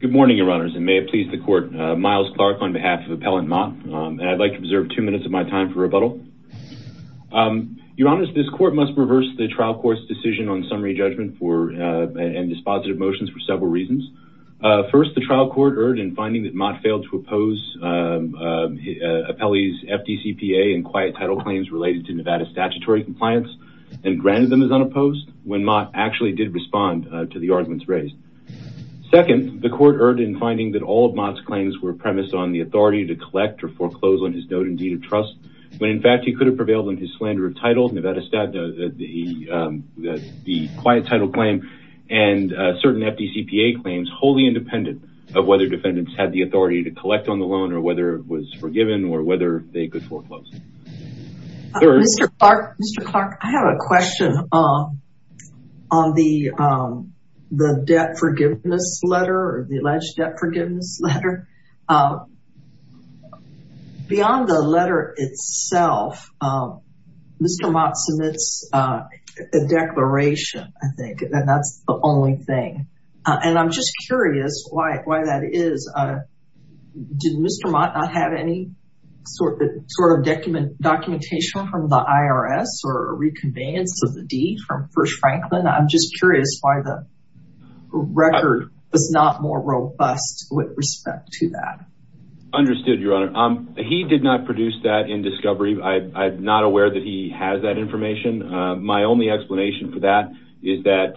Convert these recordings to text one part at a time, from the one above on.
Good morning, Your Honors, and may it please the Court, Miles Clark on behalf of Appellant Mott, and I'd like to reserve two minutes of my time for rebuttal. Your Honors, this Court must reverse the trial court's decision on summary judgment and dispositive motions for several reasons. First, the trial court erred in finding that Mott failed to oppose appellees' FDCPA and quiet title claims related to Nevada statutory compliance and granted them as unopposed when Mott actually did respond to the arguments raised. Second, the court erred in finding that all of Mott's claims were premised on the authority to collect or foreclose on his note and deed of trust, when in fact he could have prevailed on his slander of title, Nevada statute, the quiet title claim, and certain FDCPA claims wholly independent of whether defendants had the authority to collect on the loan or whether it was forgiven or whether they could foreclose. Mr. Clark, Mr. Clark, I have a question on the debt forgiveness letter or the alleged debt forgiveness letter. Beyond the letter itself, Mr. Mott submits a declaration, I think, and that's the only thing. And I'm just curious why that is. Did Mr. Mott not have any sort of documentation from the IRS or a reconveyance of the deed from First Franklin? I'm just curious why the record was not more robust with respect to that. Understood, Your Honor. He did not produce that in discovery. I'm not aware that he has that information. My only explanation for that is that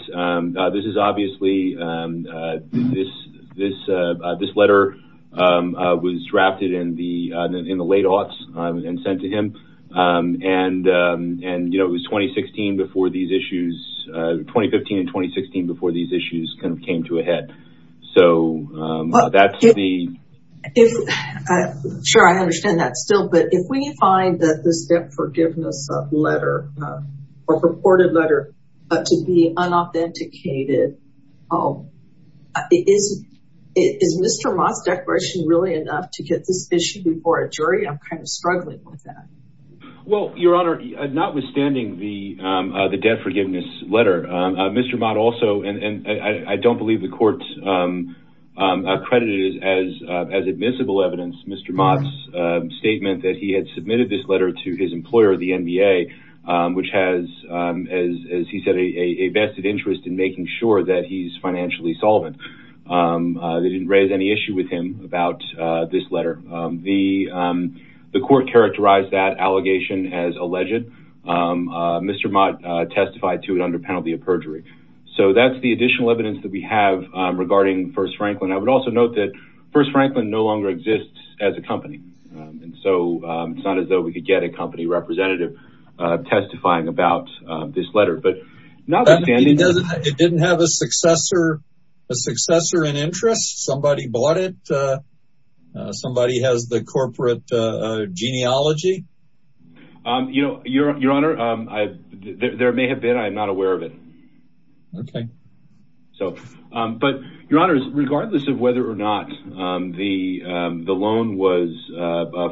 this is obviously, this letter was drafted in the late aughts and sent to him. And, you know, it was 2016 before these issues, 2015 and 2016 before these issues came to a head. So that's the... Sure, I understand that still. But if we find that this debt forgiveness letter or purported letter to be unauthenticated, is Mr. Mott's declaration really enough to get this issue before a jury? I'm kind of struggling with that. Well, Your Honor, notwithstanding the debt forgiveness letter, Mr. Mott also, and I don't believe the court accredited it as admissible evidence, Mr. Mott's statement that he had submitted this letter to his employer, the NBA, which has, as he said, a vested interest in making sure that he's financially solvent. They didn't raise any issue with him about this letter. The court characterized that allegation as alleged. So that's the additional evidence that we have regarding First Franklin. I would also note that First Franklin no longer exists as a company. And so it's not as though we could get a company representative testifying about this letter. But notwithstanding... It didn't have a successor, a successor in interest? Somebody bought it? Somebody has the corporate genealogy? Your Honor, there may have been. I'm not aware of it. Okay. So, but, Your Honor, regardless of whether or not the loan was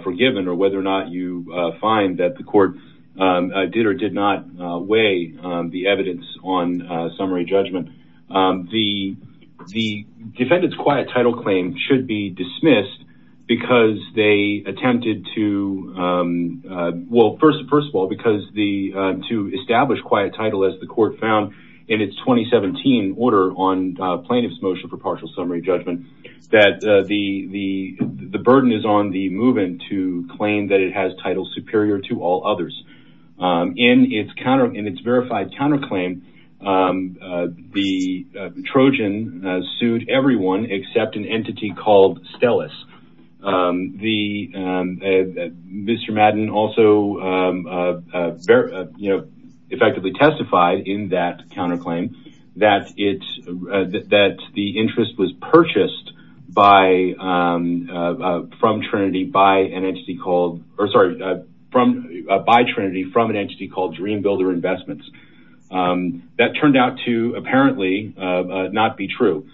forgiven or whether or not you find that the court did or did not weigh the evidence on summary judgment, the Well, first of all, because to establish quiet title, as the court found in its 2017 order on plaintiff's motion for partial summary judgment, that the burden is on the move-in to claim that it has titles superior to all others. In its counter, in its verified counterclaim, the Trojan sued everyone except an entity called Stellis. Mr. Madden also effectively testified in that counterclaim that the interest was purchased from Trinity by an entity called, or sorry, by Trinity from an entity called Dream Builder Investments. That turned out to apparently not be true.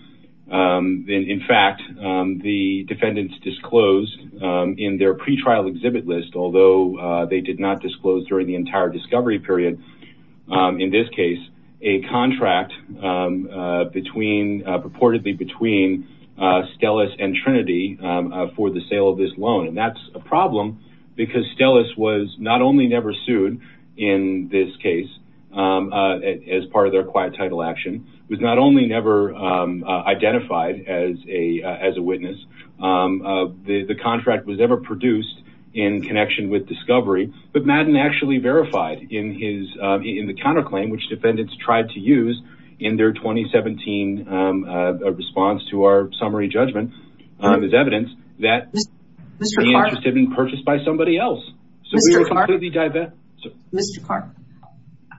In fact, the defendants disclosed in their pretrial exhibit list, although they did not disclose during the entire discovery period, in this case, a contract between, purportedly between Stellis and Trinity for the sale of this loan. And that's a problem because Stellis was not only never sued in this case as part of their quiet title action, was not only never identified as a witness, the contract was never produced in connection with discovery, but Madden actually verified in his, in the counterclaim, which defendants tried to use in their 2017 response to our summary judgment, there's evidence that the interest had been purchased by somebody else. Mr. Clark,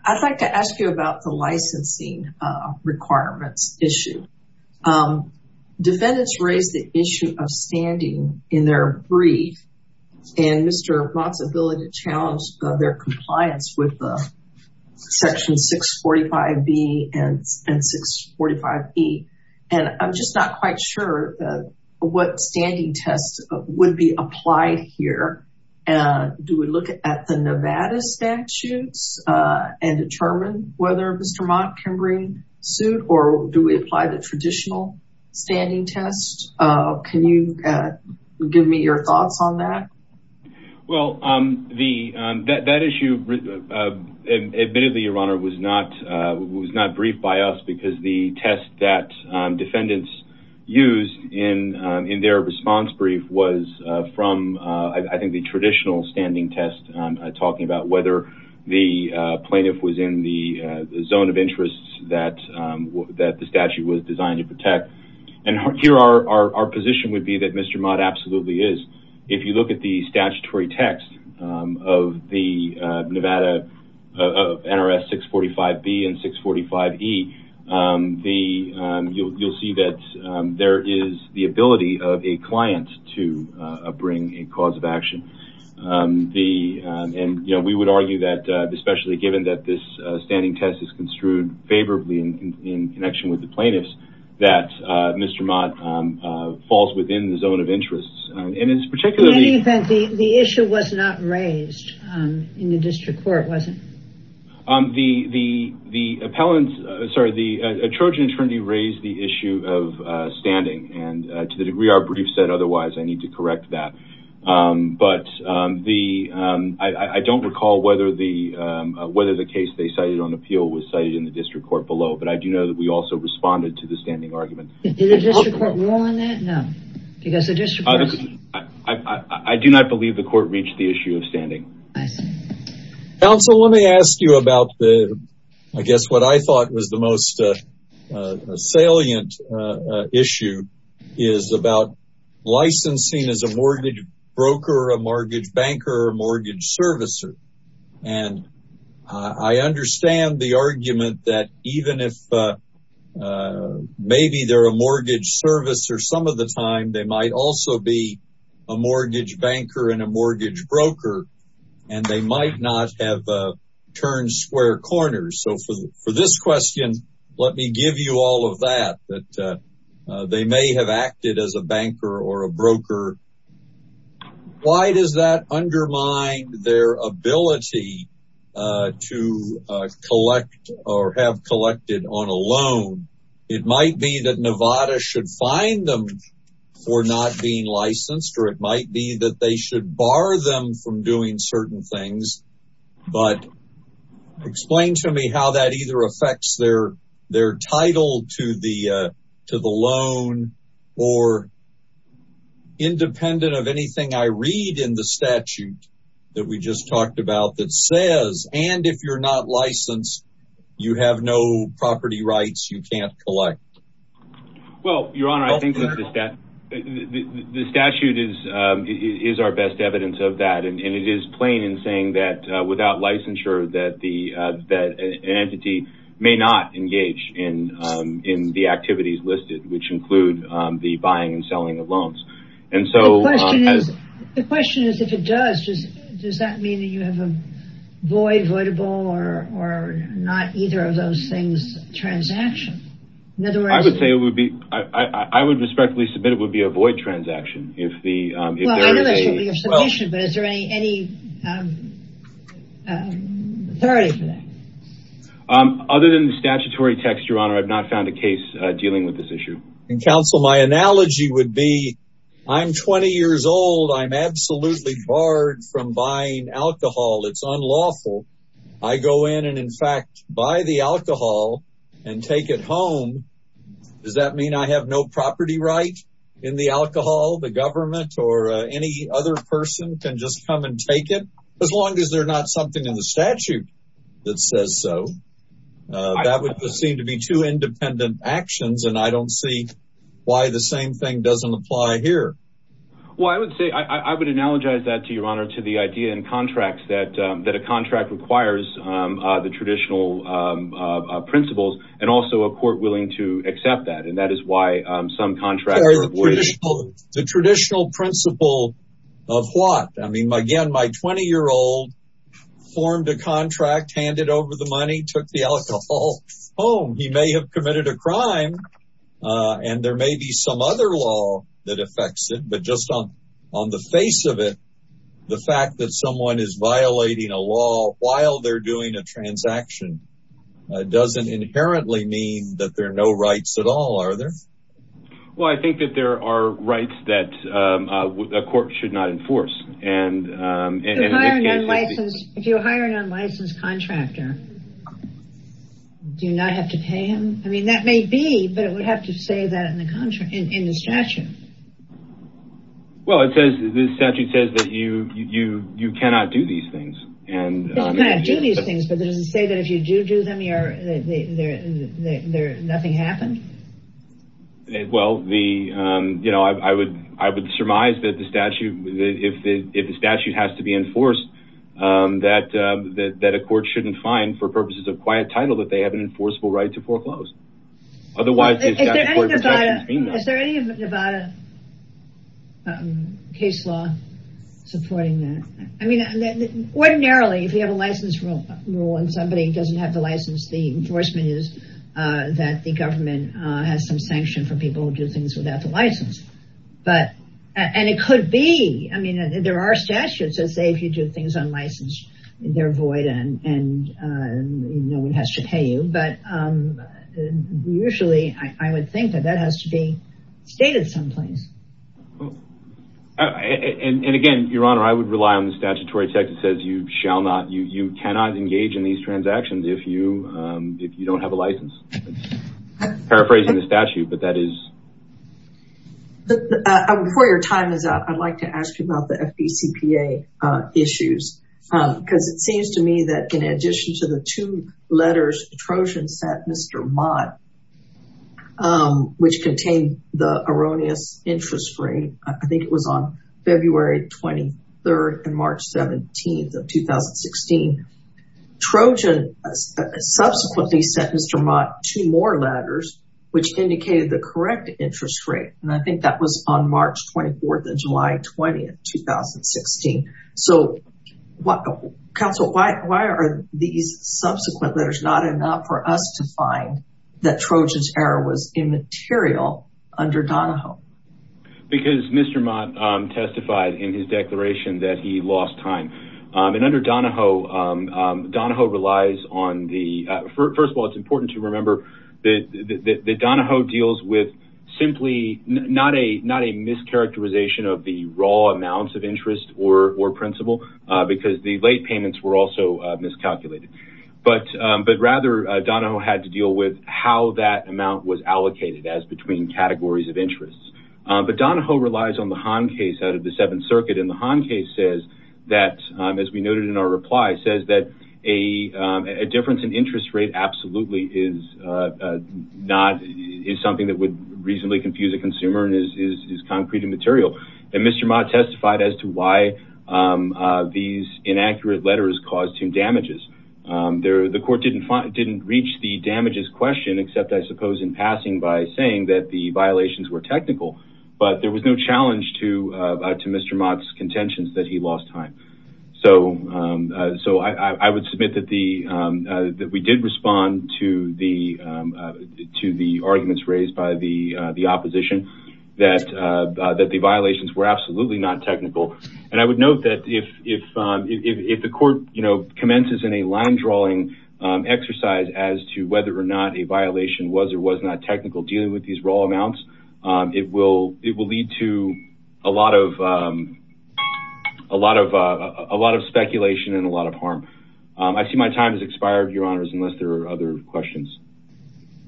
I'd like to ask you about the licensing requirements issue. Defendants raised the issue of standing in their brief and Mr. Mott's ability to challenge their compliance with Section 645B and 645E. And I'm just not quite sure what standing test would be applied here. Do we look at the Nevada statutes and determine whether Mr. Mott can bring suit or do we apply the traditional standing test? Can you give me your thoughts on that? Well, that issue, admittedly, Your Honor, was not briefed by us because the test that defendants used in their response brief was from, I think, the traditional standing test talking about whether the plaintiff was in the zone of interest that the statute was designed to protect. And here our position would be that Mr. Mott absolutely is. If you look at the statutory text of Nevada NRS 645B and 645E, you'll see that there is the ability of a client to bring a cause of action. And we would argue that, especially given that this standing test is construed favorably in connection with the plaintiffs, that Mr. Mott falls within the zone of interest. In any event, the issue was not raised in the district court, was it? The Trojan attorney raised the issue of standing and to the degree our brief said otherwise, I need to correct that. But I don't recall whether the case they cited on appeal was cited in the district court below, but I do know that we also responded to the standing argument. Did the district court rule on that? No. I do not believe the court reached the issue of standing. Counsel, let me ask you about the, I guess what I thought was the most salient issue is about licensing as a mortgage broker, a mortgage banker, a mortgage servicer. And I understand the argument that even if maybe they're a mortgage servicer, some of the time they might also be a mortgage banker and a mortgage broker and they might not have turned square corners. So for this question, let me give you all of that, that they may have acted as a banker or a broker. Why does that undermine their ability to collect or have collected on a loan? It might be that Nevada should fine them for not being licensed, or it might be that they should bar them from doing certain things. But explain to me how that either affects their title to the loan or independent of anything I read in the statute that we just talked about that says, and if you're not licensed, you have no property rights, you can't collect. Well, Your Honor, I think that the statute is our best evidence of that. And it is plain in saying that without licensure that an entity may not engage in the activities listed, which include the buying and selling of loans. The question is, if it does, does that mean that you have a void, voidable, or not either of those things transaction? I would respectfully submit it would be a void transaction. I know that should be your submission, but is there any authority for that? Other than the statutory text, Your Honor, I've not found a case dealing with this issue. And counsel, my analogy would be, I'm 20 years old. I'm absolutely barred from buying alcohol. It's unlawful. I go in and, in fact, buy the alcohol and take it home. Does that mean I have no property right in the alcohol? The government or any other person can just come and take it? As long as they're not something in the statute that says so. That would seem to be two independent actions. And I don't see why the same thing doesn't apply here. Well, I would say I would analogize that to Your Honor, to the idea in contracts that that a contract requires the traditional principles and also a court willing to accept that. And that is why some contracts. The traditional principle of what? I mean, again, my 20 year old formed a contract, handed over the money, took the alcohol home. He may have committed a crime and there may be some other law that affects it. But just on the face of it, the fact that someone is violating a law while they're doing a transaction doesn't inherently mean that there are no rights at all, are there? Well, I think that there are rights that a court should not enforce. And if you hire an unlicensed contractor, do you not have to pay him? I mean, that may be, but it would have to say that in the statute. Well, it says this statute says that you cannot do these things. You cannot do these things, but does it say that if you do do them, nothing happened? Well, I would surmise that the statute, if the statute has to be enforced, that a court shouldn't find, for purposes of quiet title, that they have an enforceable right to foreclose. Is there any Nevada case law supporting that? I mean, ordinarily, if you have a license rule and somebody doesn't have the license, the enforcement is that the government has some sanction for people who do things without the license. But, and it could be, I mean, there are statutes that say if you do things unlicensed, they're void and no one has to pay you. But usually I would think that that has to be stated someplace. And again, Your Honor, I would rely on the statutory text that says you shall not, you cannot engage in these transactions if you don't have a license. Paraphrasing the statute, but that is. Before your time is up, I'd like to ask you about the FDCPA issues. Because it seems to me that in addition to the two letters, Trojan sent Mr. Mott, which contained the erroneous interest rate. I think it was on February 23rd and March 17th of 2016. Trojan subsequently sent Mr. Mott two more letters, which indicated the correct interest rate. And I think that was on March 24th and July 20th, 2016. So counsel, why are these subsequent letters not enough for us to find that Trojan's error was immaterial under Donahoe? Because Mr. Mott testified in his declaration that he lost time. And under Donahoe, Donahoe relies on the, first of all, it's important to remember that Donahoe deals with simply not a mischaracterization of the raw amounts of interest or principal, because the late payments were also miscalculated. But rather, Donahoe had to deal with how that amount was allocated as between categories of interest. But Donahoe relies on the Hahn case out of the Seventh Circuit. And the Hahn case says that, as we noted in our reply, says that a difference in interest rate absolutely is not, is something that would reasonably confuse a consumer and is concrete and material. And Mr. Mott testified as to why these inaccurate letters caused him damages. The court didn't reach the damages question except, I suppose, in passing by saying that the violations were technical. But there was no challenge to Mr. Mott's contentions that he lost time. So I would submit that we did respond to the arguments raised by the opposition that the violations were absolutely not technical. And I would note that if the court commences in a line drawing exercise as to whether or not a violation was or was not technical dealing with these raw amounts, it will lead to a lot of speculation and a lot of harm. I see my time has expired, Your Honors, unless there are other questions.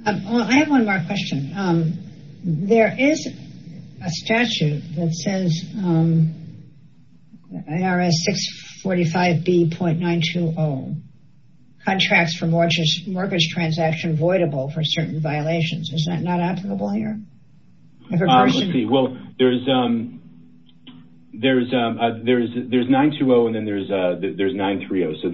I have one more question. There is a statute that says IRS 645B.920, contracts for mortgage transaction voidable for certain violations. Is that not applicable here? Let's see. Well, there's 920 and then there's 930. So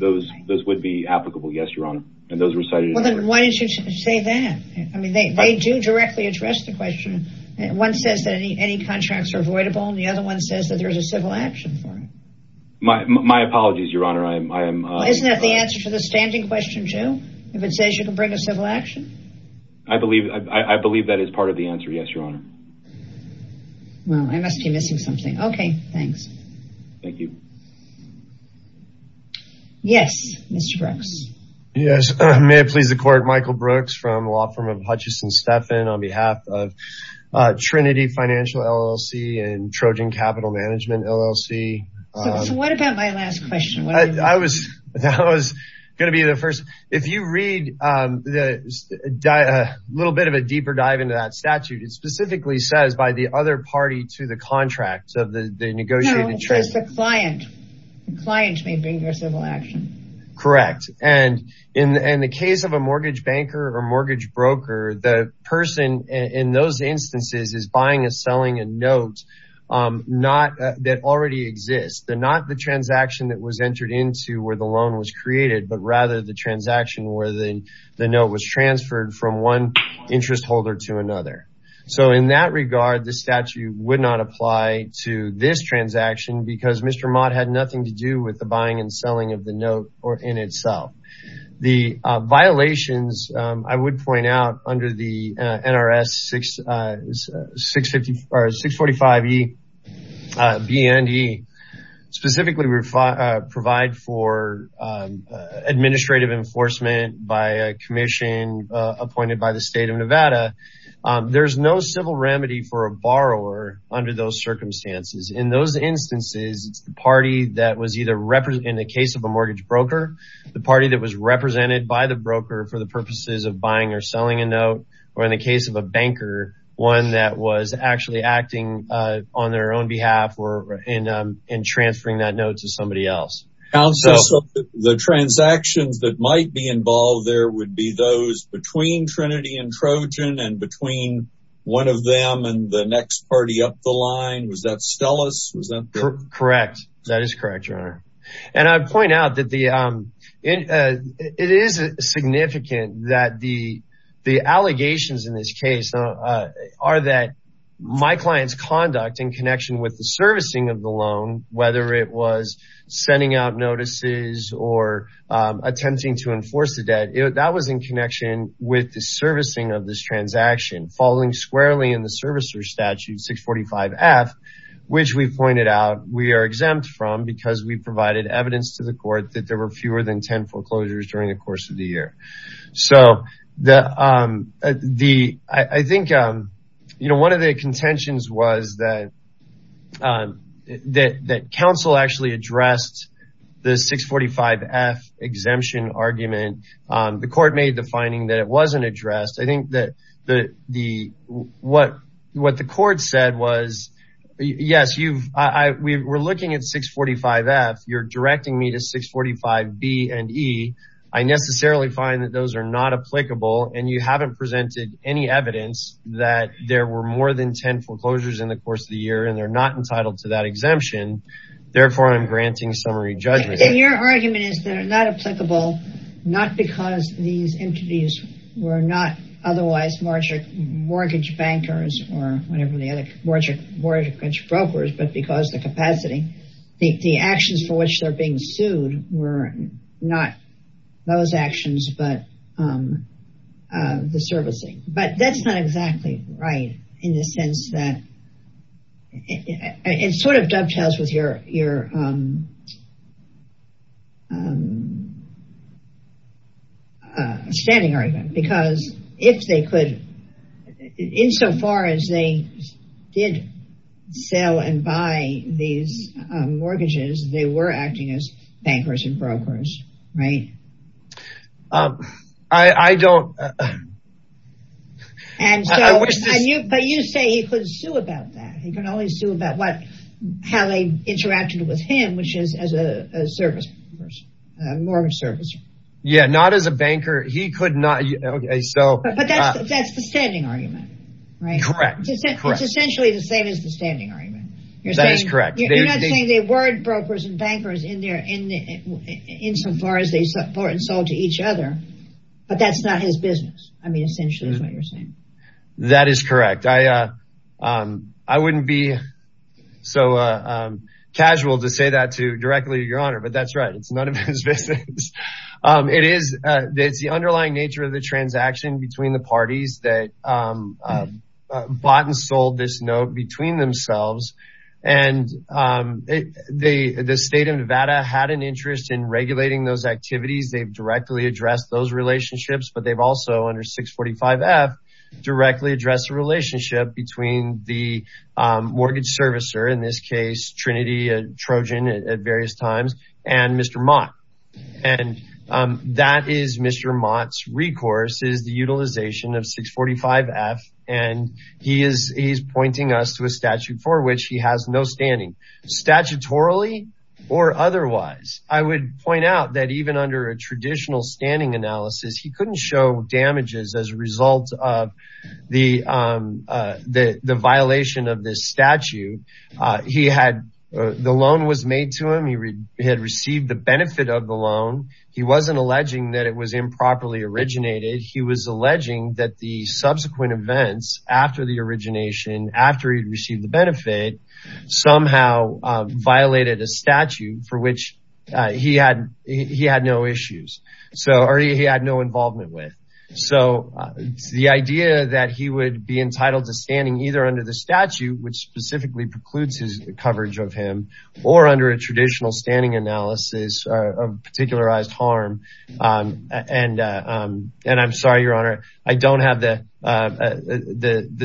those would be applicable, yes, Your Honor. Well, then why didn't you say that? I mean, they do directly address the question. One says that any contracts are voidable and the other one says that there's a civil action for it. My apologies, Your Honor. Isn't that the answer to the standing question, too? If it says you can bring a civil action? I believe that is part of the answer, yes, Your Honor. Well, I must be missing something. Okay, thanks. Thank you. Yes, Mr. Brooks. Yes, may it please the Court. Michael Brooks from the law firm of Hutchison Steffen on behalf of Trinity Financial LLC and Trojan Capital Management LLC. So what about my last question? That was going to be the first. If you read a little bit of a deeper dive into that statute, it specifically says by the other party to the contract of the negotiated trade. No, it says the client. The client may bring their civil action. Correct. And in the case of a mortgage banker or mortgage broker, the person in those instances is buying and selling a note that already exists. They're not the transaction that was entered into where the loan was created, but rather the transaction where the note was transferred from one interest holder to another. So in that regard, the statute would not apply to this transaction because Mr. Mott had nothing to do with the buying and selling of the note or in itself. The violations I would point out under the NRS 645 E BND specifically provide for administrative enforcement by a commission appointed by the state of Nevada. There's no civil remedy for a borrower under those circumstances. In those instances, it's the party that was either in the case of a mortgage broker, the party that was represented by the broker for the purposes of buying or selling a note, or in the case of a banker, one that was actually acting on their own behalf or in transferring that note to somebody else. The transactions that might be involved there would be those between Trinity and Trojan and between one of them and the next party up the line. Was that Stellis? Correct. That is correct, Your Honor. And I'd point out that it is significant that the allegations in this case are that my client's conduct in connection with the servicing of the loan, whether it was sending out notices or attempting to enforce the debt. That was in connection with the servicing of this transaction falling squarely in the servicer statute 645 F, which we pointed out we are exempt from because we provided evidence to the court that there were fewer than 10 foreclosures during the course of the year. One of the contentions was that counsel actually addressed the 645 F exemption argument. The court made the finding that it wasn't addressed. I think that what the court said was, yes, we were looking at 645 F. You're directing me to 645 B and E. I necessarily find that those are not applicable and you haven't presented any evidence that there were more than 10 foreclosures in the course of the year and they're not entitled to that exemption. Therefore, I'm granting summary judgment. Your argument is they're not applicable not because these entities were not otherwise mortgage bankers or whatever the other mortgage brokers, but because the capacity, the actions for which they're being sued were not those actions, but the servicing. But that's not exactly right in the sense that it sort of dovetails with your standing argument because if they could, insofar as they did sell and buy these mortgages, they were acting as bankers and brokers, right? But you say he could sue about that. He could always sue about how they interacted with him, which is as a mortgage servicer. Yeah, not as a banker. But that's the standing argument, right? Correct. It's essentially the same as the standing argument. That is correct. You're not saying they were brokers and bankers insofar as they bought and sold to each other, but that's not his business. I mean, essentially is what you're saying. That is correct. I wouldn't be so casual to say that to directly, Your Honor, but that's right. It's none of his business. It's the underlying nature of the transaction between the parties that bought and sold this note between themselves. And the state of Nevada had an interest in regulating those activities. They've directly addressed those relationships, but they've also under 645 F directly address the relationship between the mortgage servicer, in this case, Trinity Trojan at various times and Mr. And that is Mr. Mott's recourse is the utilization of 645 F, and he is pointing us to a statute for which he has no standing statutorily or otherwise. I would point out that even under a traditional standing analysis, he couldn't show damages as a result of the violation of this statute. He had the loan was made to him. He had received the benefit of the loan. He wasn't alleging that it was improperly originated. He was alleging that the subsequent events after the origination, after he received the benefit, somehow violated a statute for which he had no issues. So he had no involvement with. So the idea that he would be entitled to standing either under the statute, which specifically precludes his coverage of him or under a traditional standing analysis of particularized harm. And I'm sorry, Your Honor. I don't have the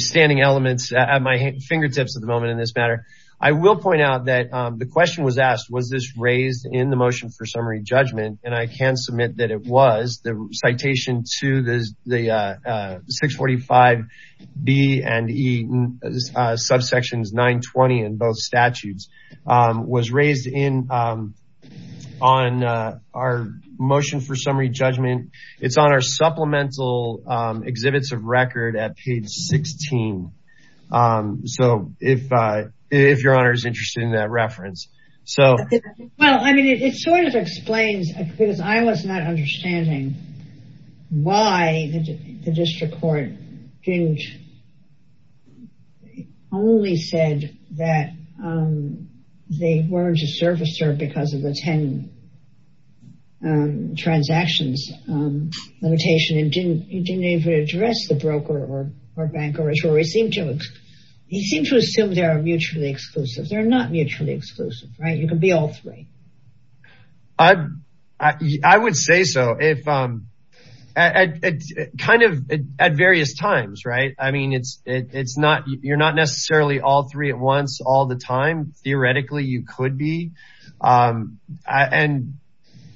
standing elements at my fingertips at the moment in this matter. I will point out that the question was asked, was this raised in the motion for summary judgment? And I can submit that it was the citation to the 645 B and E subsections 920 in both statutes was raised in on our motion for summary judgment. It's on our supplemental exhibits of record at page 16. So if if Your Honor is interested in that reference. So, well, I mean, it sort of explains because I was not understanding why the district court only said that they weren't a servicer because of the 10 transactions limitation. And you didn't even address the broker or banker. He seemed to assume they are mutually exclusive. They're not mutually exclusive. Right. You can be all three. I would say so if I'm kind of at various times. Right. I mean, it's it's not you're not necessarily all three at once all the time. Theoretically, you could be. And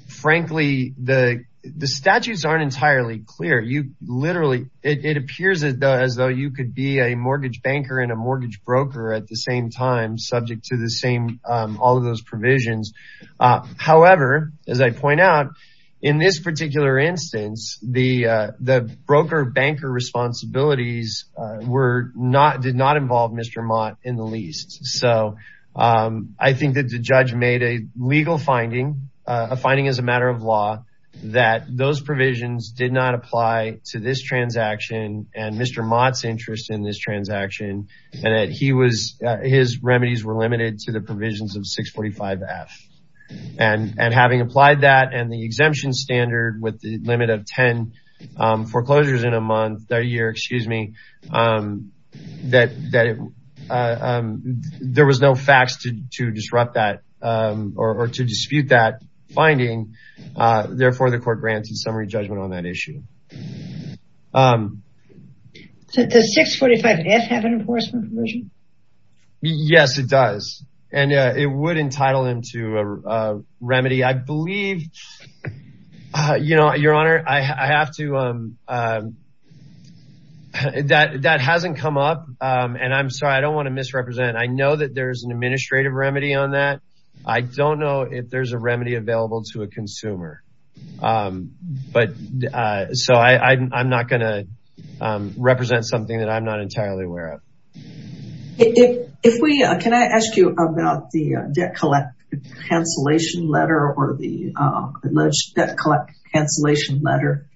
frankly, the the statutes aren't entirely clear. You literally it appears as though you could be a mortgage banker and a mortgage broker at the same time, subject to the same all of those provisions. However, as I point out in this particular instance, the the broker banker responsibilities were not did not involve Mr. Mott in the least. So I think that the judge made a legal finding. A finding is a matter of law that those provisions did not apply to this transaction. And Mr. Mott's interest in this transaction and that he was his remedies were limited to the provisions of 645 F. And having applied that and the exemption standard with the limit of 10 foreclosures in a month or a year, excuse me, that that there was no facts to disrupt that or to dispute that finding. Therefore, the court granted summary judgment on that issue. So does 645 F have an enforcement provision? Yes, it does. And it would entitle him to a remedy, I believe. You know, Your Honor, I have to. That that hasn't come up and I'm sorry, I don't want to misrepresent. I know that there is an administrative remedy on that. I don't know if there's a remedy available to a consumer. But so I'm not going to represent something that I'm not entirely aware of. Can I ask you about the debt collect cancellation letter or the alleged debt collect cancellation letter?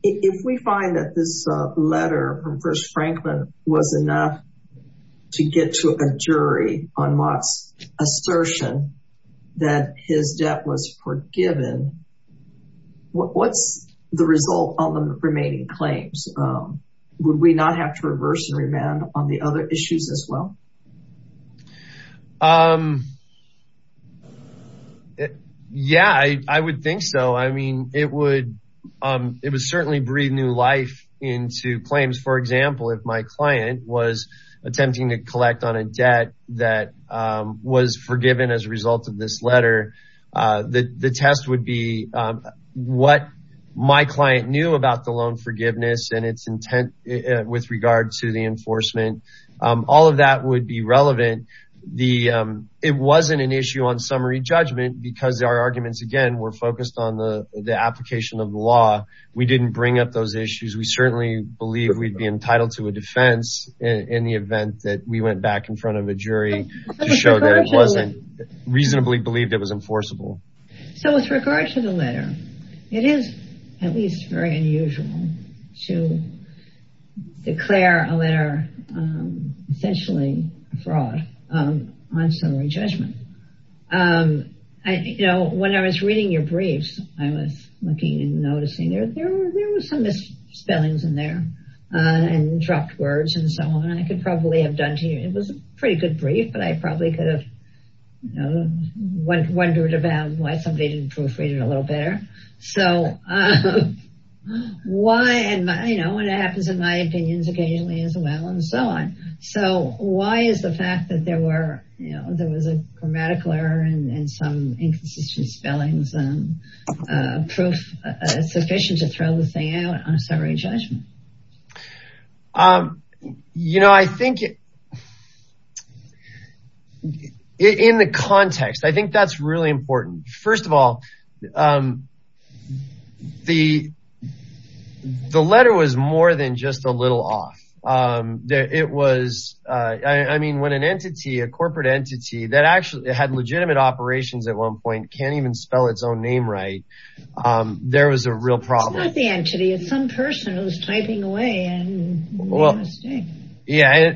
If we find that this letter from First Franklin was enough to get to a jury on Mott's assertion that his debt was forgiven, what's the result of the remaining claims? Would we not have to reverse and remand on the other issues as well? Yeah, I would think so. I mean, it would it would certainly breathe new life into claims. For example, if my client was attempting to collect on a debt that was forgiven as a result of this letter, the test would be what my client knew about the loan forgiveness and its intent with regard to the enforcement. All of that would be relevant. It wasn't an issue on summary judgment because our arguments, again, were focused on the application of the law. We didn't bring up those issues. We certainly believe we'd be entitled to a defense in the event that we went back in front of a jury to show that it wasn't reasonably believed it was enforceable. So with regard to the letter, it is at least very unusual to declare a letter essentially a fraud on summary judgment. You know, when I was reading your briefs, I was looking and noticing there were some misspellings in there and dropped words and so on. I could probably have done to you. It was a pretty good brief, but I probably could have wondered about why somebody didn't proofread it a little better. Why is the fact that there was a grammatical error and some inconsistent spellings sufficient to throw the thing out on summary judgment? You know, I think in the context, I think that's really important. First of all, the letter was more than just a little off. It was, I mean, when an entity, a corporate entity that actually had legitimate operations at one point can't even spell its own name right, there was a real problem. It's not the entity, it's some person who's typing away and made a mistake. Yeah,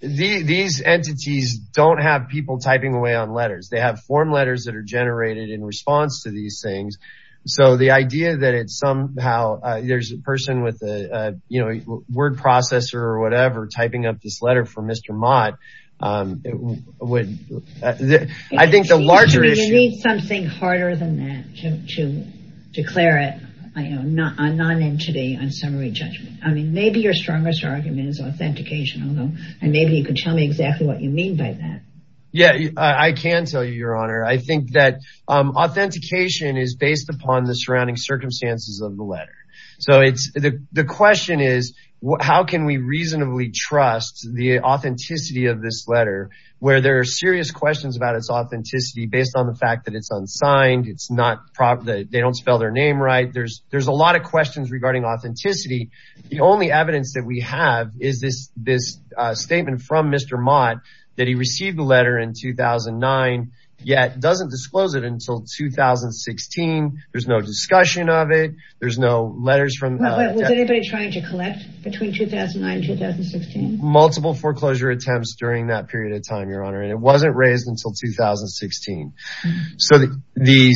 these entities don't have people typing away on letters. They have form letters that are generated in response to these things. So the idea that it's somehow, there's a person with a word processor or whatever typing up this letter for Mr. Mott. I think the larger issue. You need something harder than that to declare it a non-entity on summary judgment. I mean, maybe your strongest argument is authentication, and maybe you can tell me exactly what you mean by that. Yeah, I can tell you, Your Honor. I think that authentication is based upon the surrounding circumstances of the letter. So the question is, how can we reasonably trust the authenticity of this letter where there are serious questions about its authenticity based on the fact that it's unsigned? It's not proper. They don't spell their name right. There's a lot of questions regarding authenticity. The only evidence that we have is this statement from Mr. Mott that he received the letter in 2009 yet doesn't disclose it until 2016. There's no discussion of it. There's no letters from anybody trying to collect between 2009 and 2016. Multiple foreclosure attempts during that period of time, Your Honor. And it wasn't raised until 2016. So the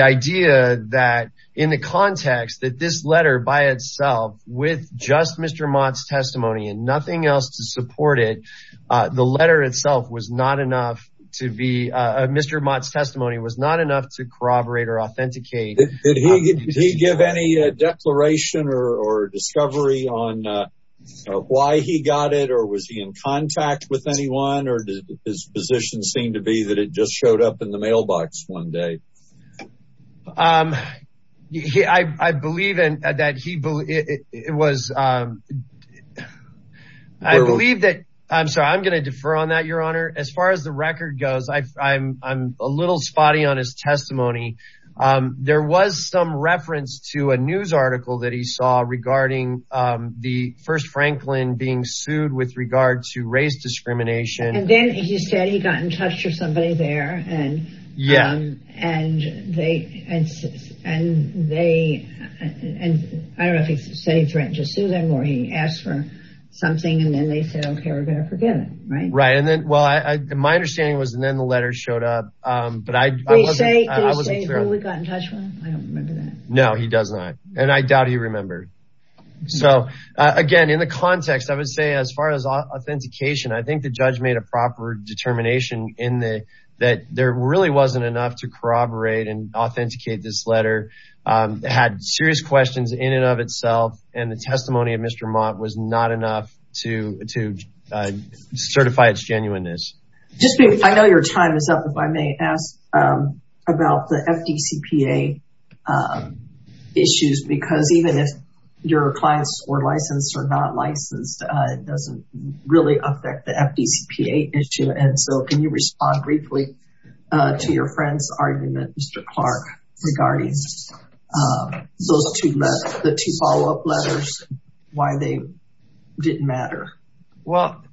idea that in the context that this letter by itself with just Mr. Mott's testimony and nothing else to support it. The letter itself was not enough to be Mr. Mott's testimony was not enough to corroborate or authenticate. Did he give any declaration or discovery on why he got it or was he in contact with anyone? Or does his position seem to be that it just showed up in the mailbox one day? I believe that he was. I believe that I'm sorry, I'm going to defer on that, Your Honor. As far as the record goes, I'm a little spotty on his testimony. There was some reference to a news article that he saw regarding the first Franklin being sued with regard to race discrimination. And then he said he got in touch with somebody there. And yeah, and they and and they and I don't know if he's setting a threat to sue them or he asked for something. And then they said, OK, we're going to forget it. Right. Right. And then, well, my understanding was and then the letter showed up. But I say we got in touch with him. I don't remember that. No, he does not. And I doubt he remembered. So, again, in the context, I would say as far as authentication, I think the judge made a proper determination in that there really wasn't enough to corroborate and authenticate this letter. It had serious questions in and of itself. And the testimony of Mr. Mott was not enough to to certify its genuineness. I know your time is up, if I may ask about the FDCPA issues, because even if your clients were licensed or not licensed, it doesn't really affect the FDCPA issue. And so can you respond briefly to your friend's argument, Mr. Clark, regarding those two letters, the two follow up letters, why they didn't matter? Well,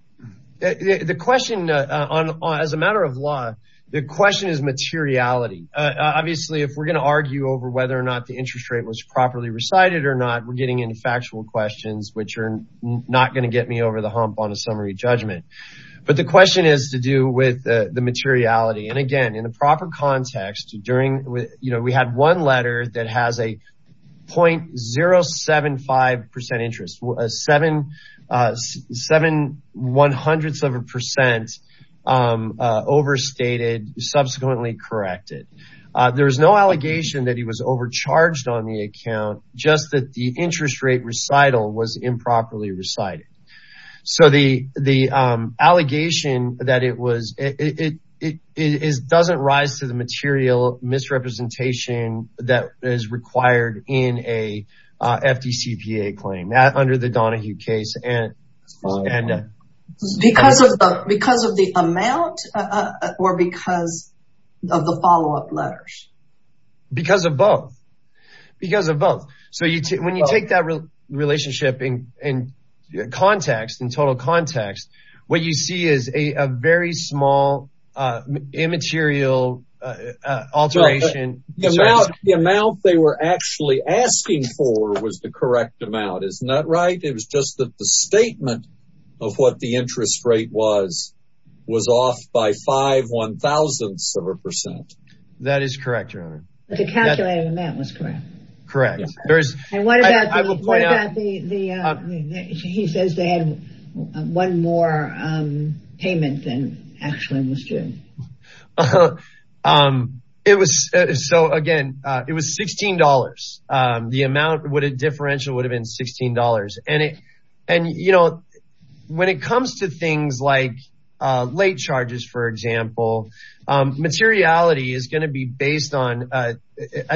the question on as a matter of law, the question is materiality. Obviously, if we're going to argue over whether or not the interest rate was properly recited or not, we're getting into factual questions which are not going to get me over the hump on a summary judgment. But the question is to do with the materiality. And again, in the proper context during, you know, we had one letter that has a point zero seven five percent interest, seven seven one hundredths of a percent overstated, subsequently corrected. There is no allegation that he was overcharged on the account, just that the interest rate recital was improperly recited. So the the allegation that it was it is doesn't rise to the material misrepresentation that is required in a FDCPA claim under the Donahue case. And because of because of the amount or because of the follow up letters, because of both, because of both. So when you take that relationship in context, in total context, what you see is a very small immaterial alteration. The amount they were actually asking for was the correct amount. Isn't that right? It was just that the statement of what the interest rate was was off by five one thousandths of a percent. That is correct. But the calculated amount was correct. Correct. There is. I will point out that he says they had one more payment than actually was due. It was. So, again, it was sixteen dollars. The amount would a differential would have been sixteen dollars. And, you know, when it comes to things like late charges, for example, materiality is going to be based on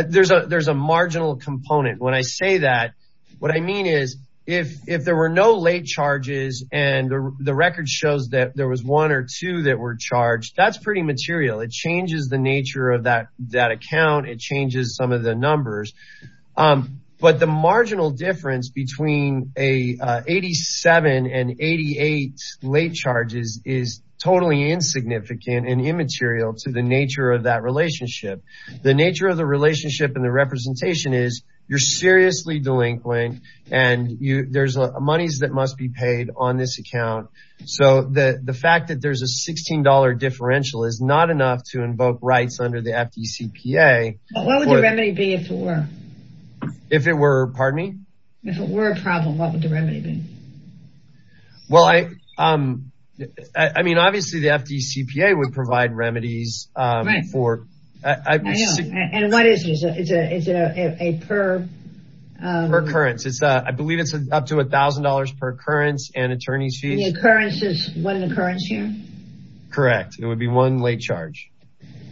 there's a there's a marginal component. When I say that, what I mean is if if there were no late charges and the record shows that there was one or two that were charged, that's pretty material. It changes the nature of that that account. It changes some of the numbers. But the marginal difference between a eighty seven and eighty eight late charges is totally insignificant and immaterial to the nature of that relationship. The nature of the relationship and the representation is you're seriously delinquent and there's monies that must be paid on this account. So the fact that there's a sixteen dollar differential is not enough to invoke rights under the FDCPA. What would the remedy be if it were. If it were. Pardon me. If it were a problem, what would the remedy be? Well, I I mean, obviously, the FDCPA would provide remedies for. And what is it? Is it a per occurrence? It's I believe it's up to a thousand dollars per occurrence and attorney's fees. The occurrence is one occurrence here. Correct. It would be one late charge.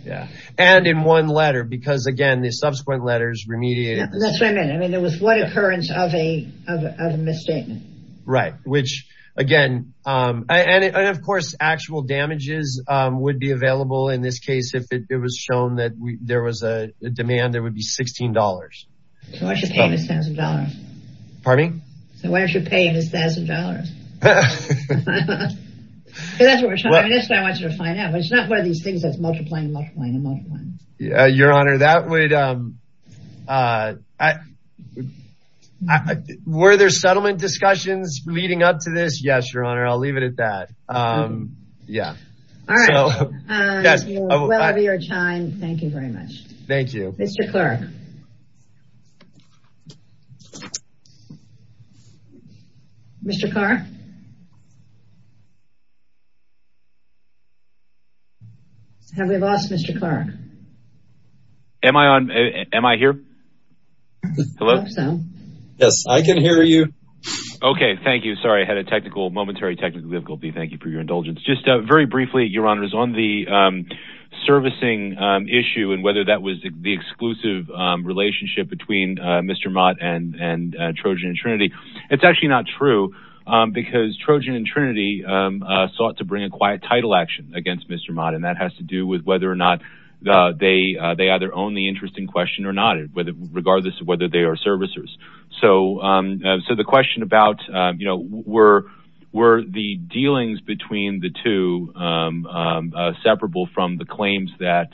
Yeah. And in one letter, because, again, the subsequent letters remediate. That's what I mean. I mean, there was one occurrence of a of a misstatement. Right. Which, again, and of course, actual damages would be available in this case if it was shown that there was a demand, there would be sixteen dollars. So I should pay this thousand dollars. Pardon me. So why don't you pay this thousand dollars? Because that's what I want you to find out. It's not one of these things that's multiplying, multiplying and multiplying. Your honor, that would. Were there settlement discussions leading up to this? Yes, your honor. I'll leave it at that. Yeah. All right. Well, your time. Thank you very much. Thank you, Mr. Clark. Mr. Clark. Have we lost Mr. Clark? Am I on? Am I here? Hello. Yes, I can hear you. OK, thank you. Sorry. I had a technical momentary technical difficulty. Thank you for your indulgence. Just very briefly, your honor, is on the servicing issue and whether that was the exclusive relationship between Mr. Mott and Trojan Trinity. It's actually not true because Trojan and Trinity sought to bring a quiet title action against Mr. Mott. And that has to do with whether or not they they either own the interest in question or not, regardless of whether they are servicers. So. So the question about, you know, were were the dealings between the two separable from the claims that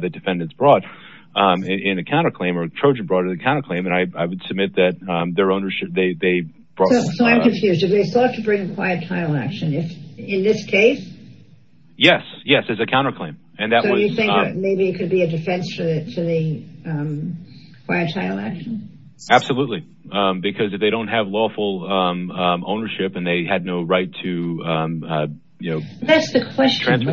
the defendants brought in a counterclaim or Trojan brought in a counterclaim. And I would submit that their ownership they brought. So I'm confused if they thought to bring a quiet title action in this case. Yes. Yes. As a counterclaim. And that was maybe it could be a defense for the quiet title action. Absolutely. Because if they don't have lawful ownership and they had no right to, you know, that's the question.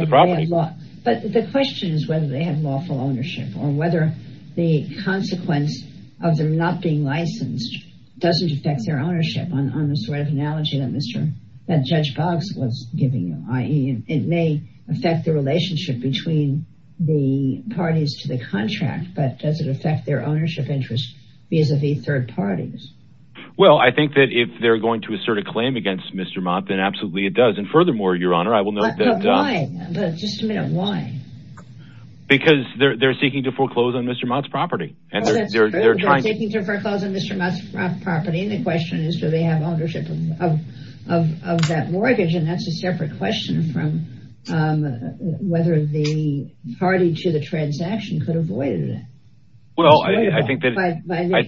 But the question is whether they have lawful ownership or whether the consequence of them not being licensed doesn't affect their ownership on the sort of analogy that Mr. Judge Boggs was giving you, i.e. it may affect the relationship between the parties to the contract. But does it affect their ownership interest vis-a-vis third parties? Well, I think that if they're going to assert a claim against Mr. It does. And furthermore, your honor, I will note that just a minute. Why? Because they're seeking to foreclose on Mr. Mott's property and they're trying to foreclose on Mr. Mott's property. And the question is, do they have ownership of that mortgage? And that's a separate question from whether the party to the transaction could avoid it. Well, I think that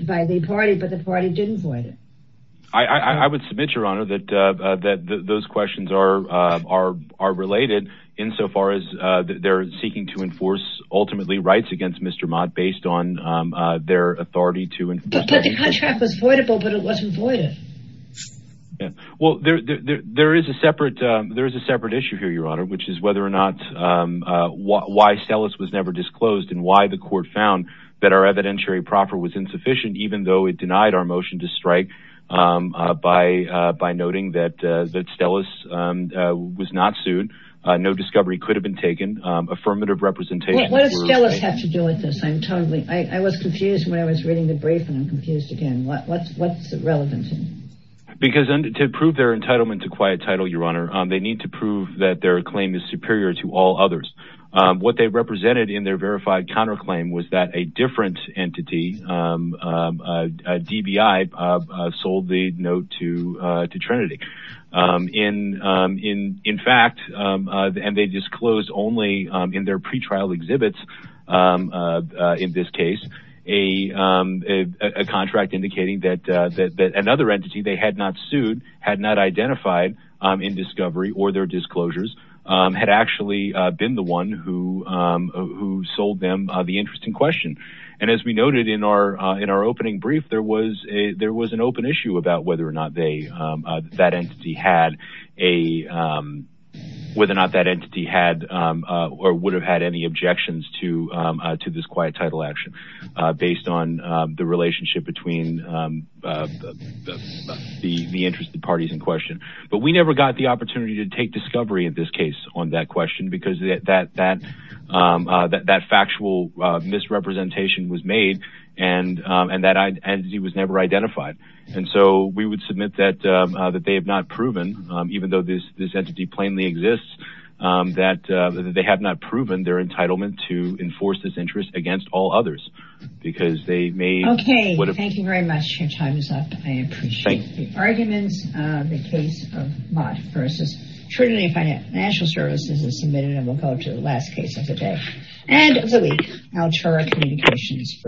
by the party, but the party didn't void it. I would submit, your honor, that those questions are related insofar as they're seeking to enforce ultimately rights against Mr. Mott based on their authority to. But the contract was voidable, but it wasn't voided. Well, there is a separate there is a separate issue here, your honor, which is whether or not why Sellis was never disclosed and why the court found that our evidentiary proffer was insufficient, even though it denied our motion to strike by by noting that that Stella's was not sued. No discovery could have been taken. Affirmative representation. What does Stella's have to do with this? I'm totally I was confused when I was reading the brief and I'm confused again. What's what's relevant? Because to prove their entitlement to quiet title, your honor, they need to prove that their claim is superior to all others. What they represented in their verified counterclaim was that a different entity, DBI, sold the note to to Trinity in in in fact, and they disclosed only in their pretrial exhibits. In this case, a contract indicating that that another entity they had not sued had not identified in discovery or their disclosures had actually been the one who who sold them the interesting question. And as we noted in our in our opening brief, there was a there was an open issue about whether or not they that entity had a whether or not that entity had or would have had any objections to to this quiet title action based on the relationship between the interested parties in question. But we never got the opportunity to take discovery in this case on that question because that that that that factual misrepresentation was made. And and that entity was never identified. And so we would submit that that they have not proven, even though this this entity plainly exists, that they have not proven their entitlement to enforce this interest against all others because they may. OK, thank you very much. Your time is up. I appreciate the arguments. The case of Mott versus Trinity Financial Services is submitted and we'll go to the last case of the day. And really, I'll try communications.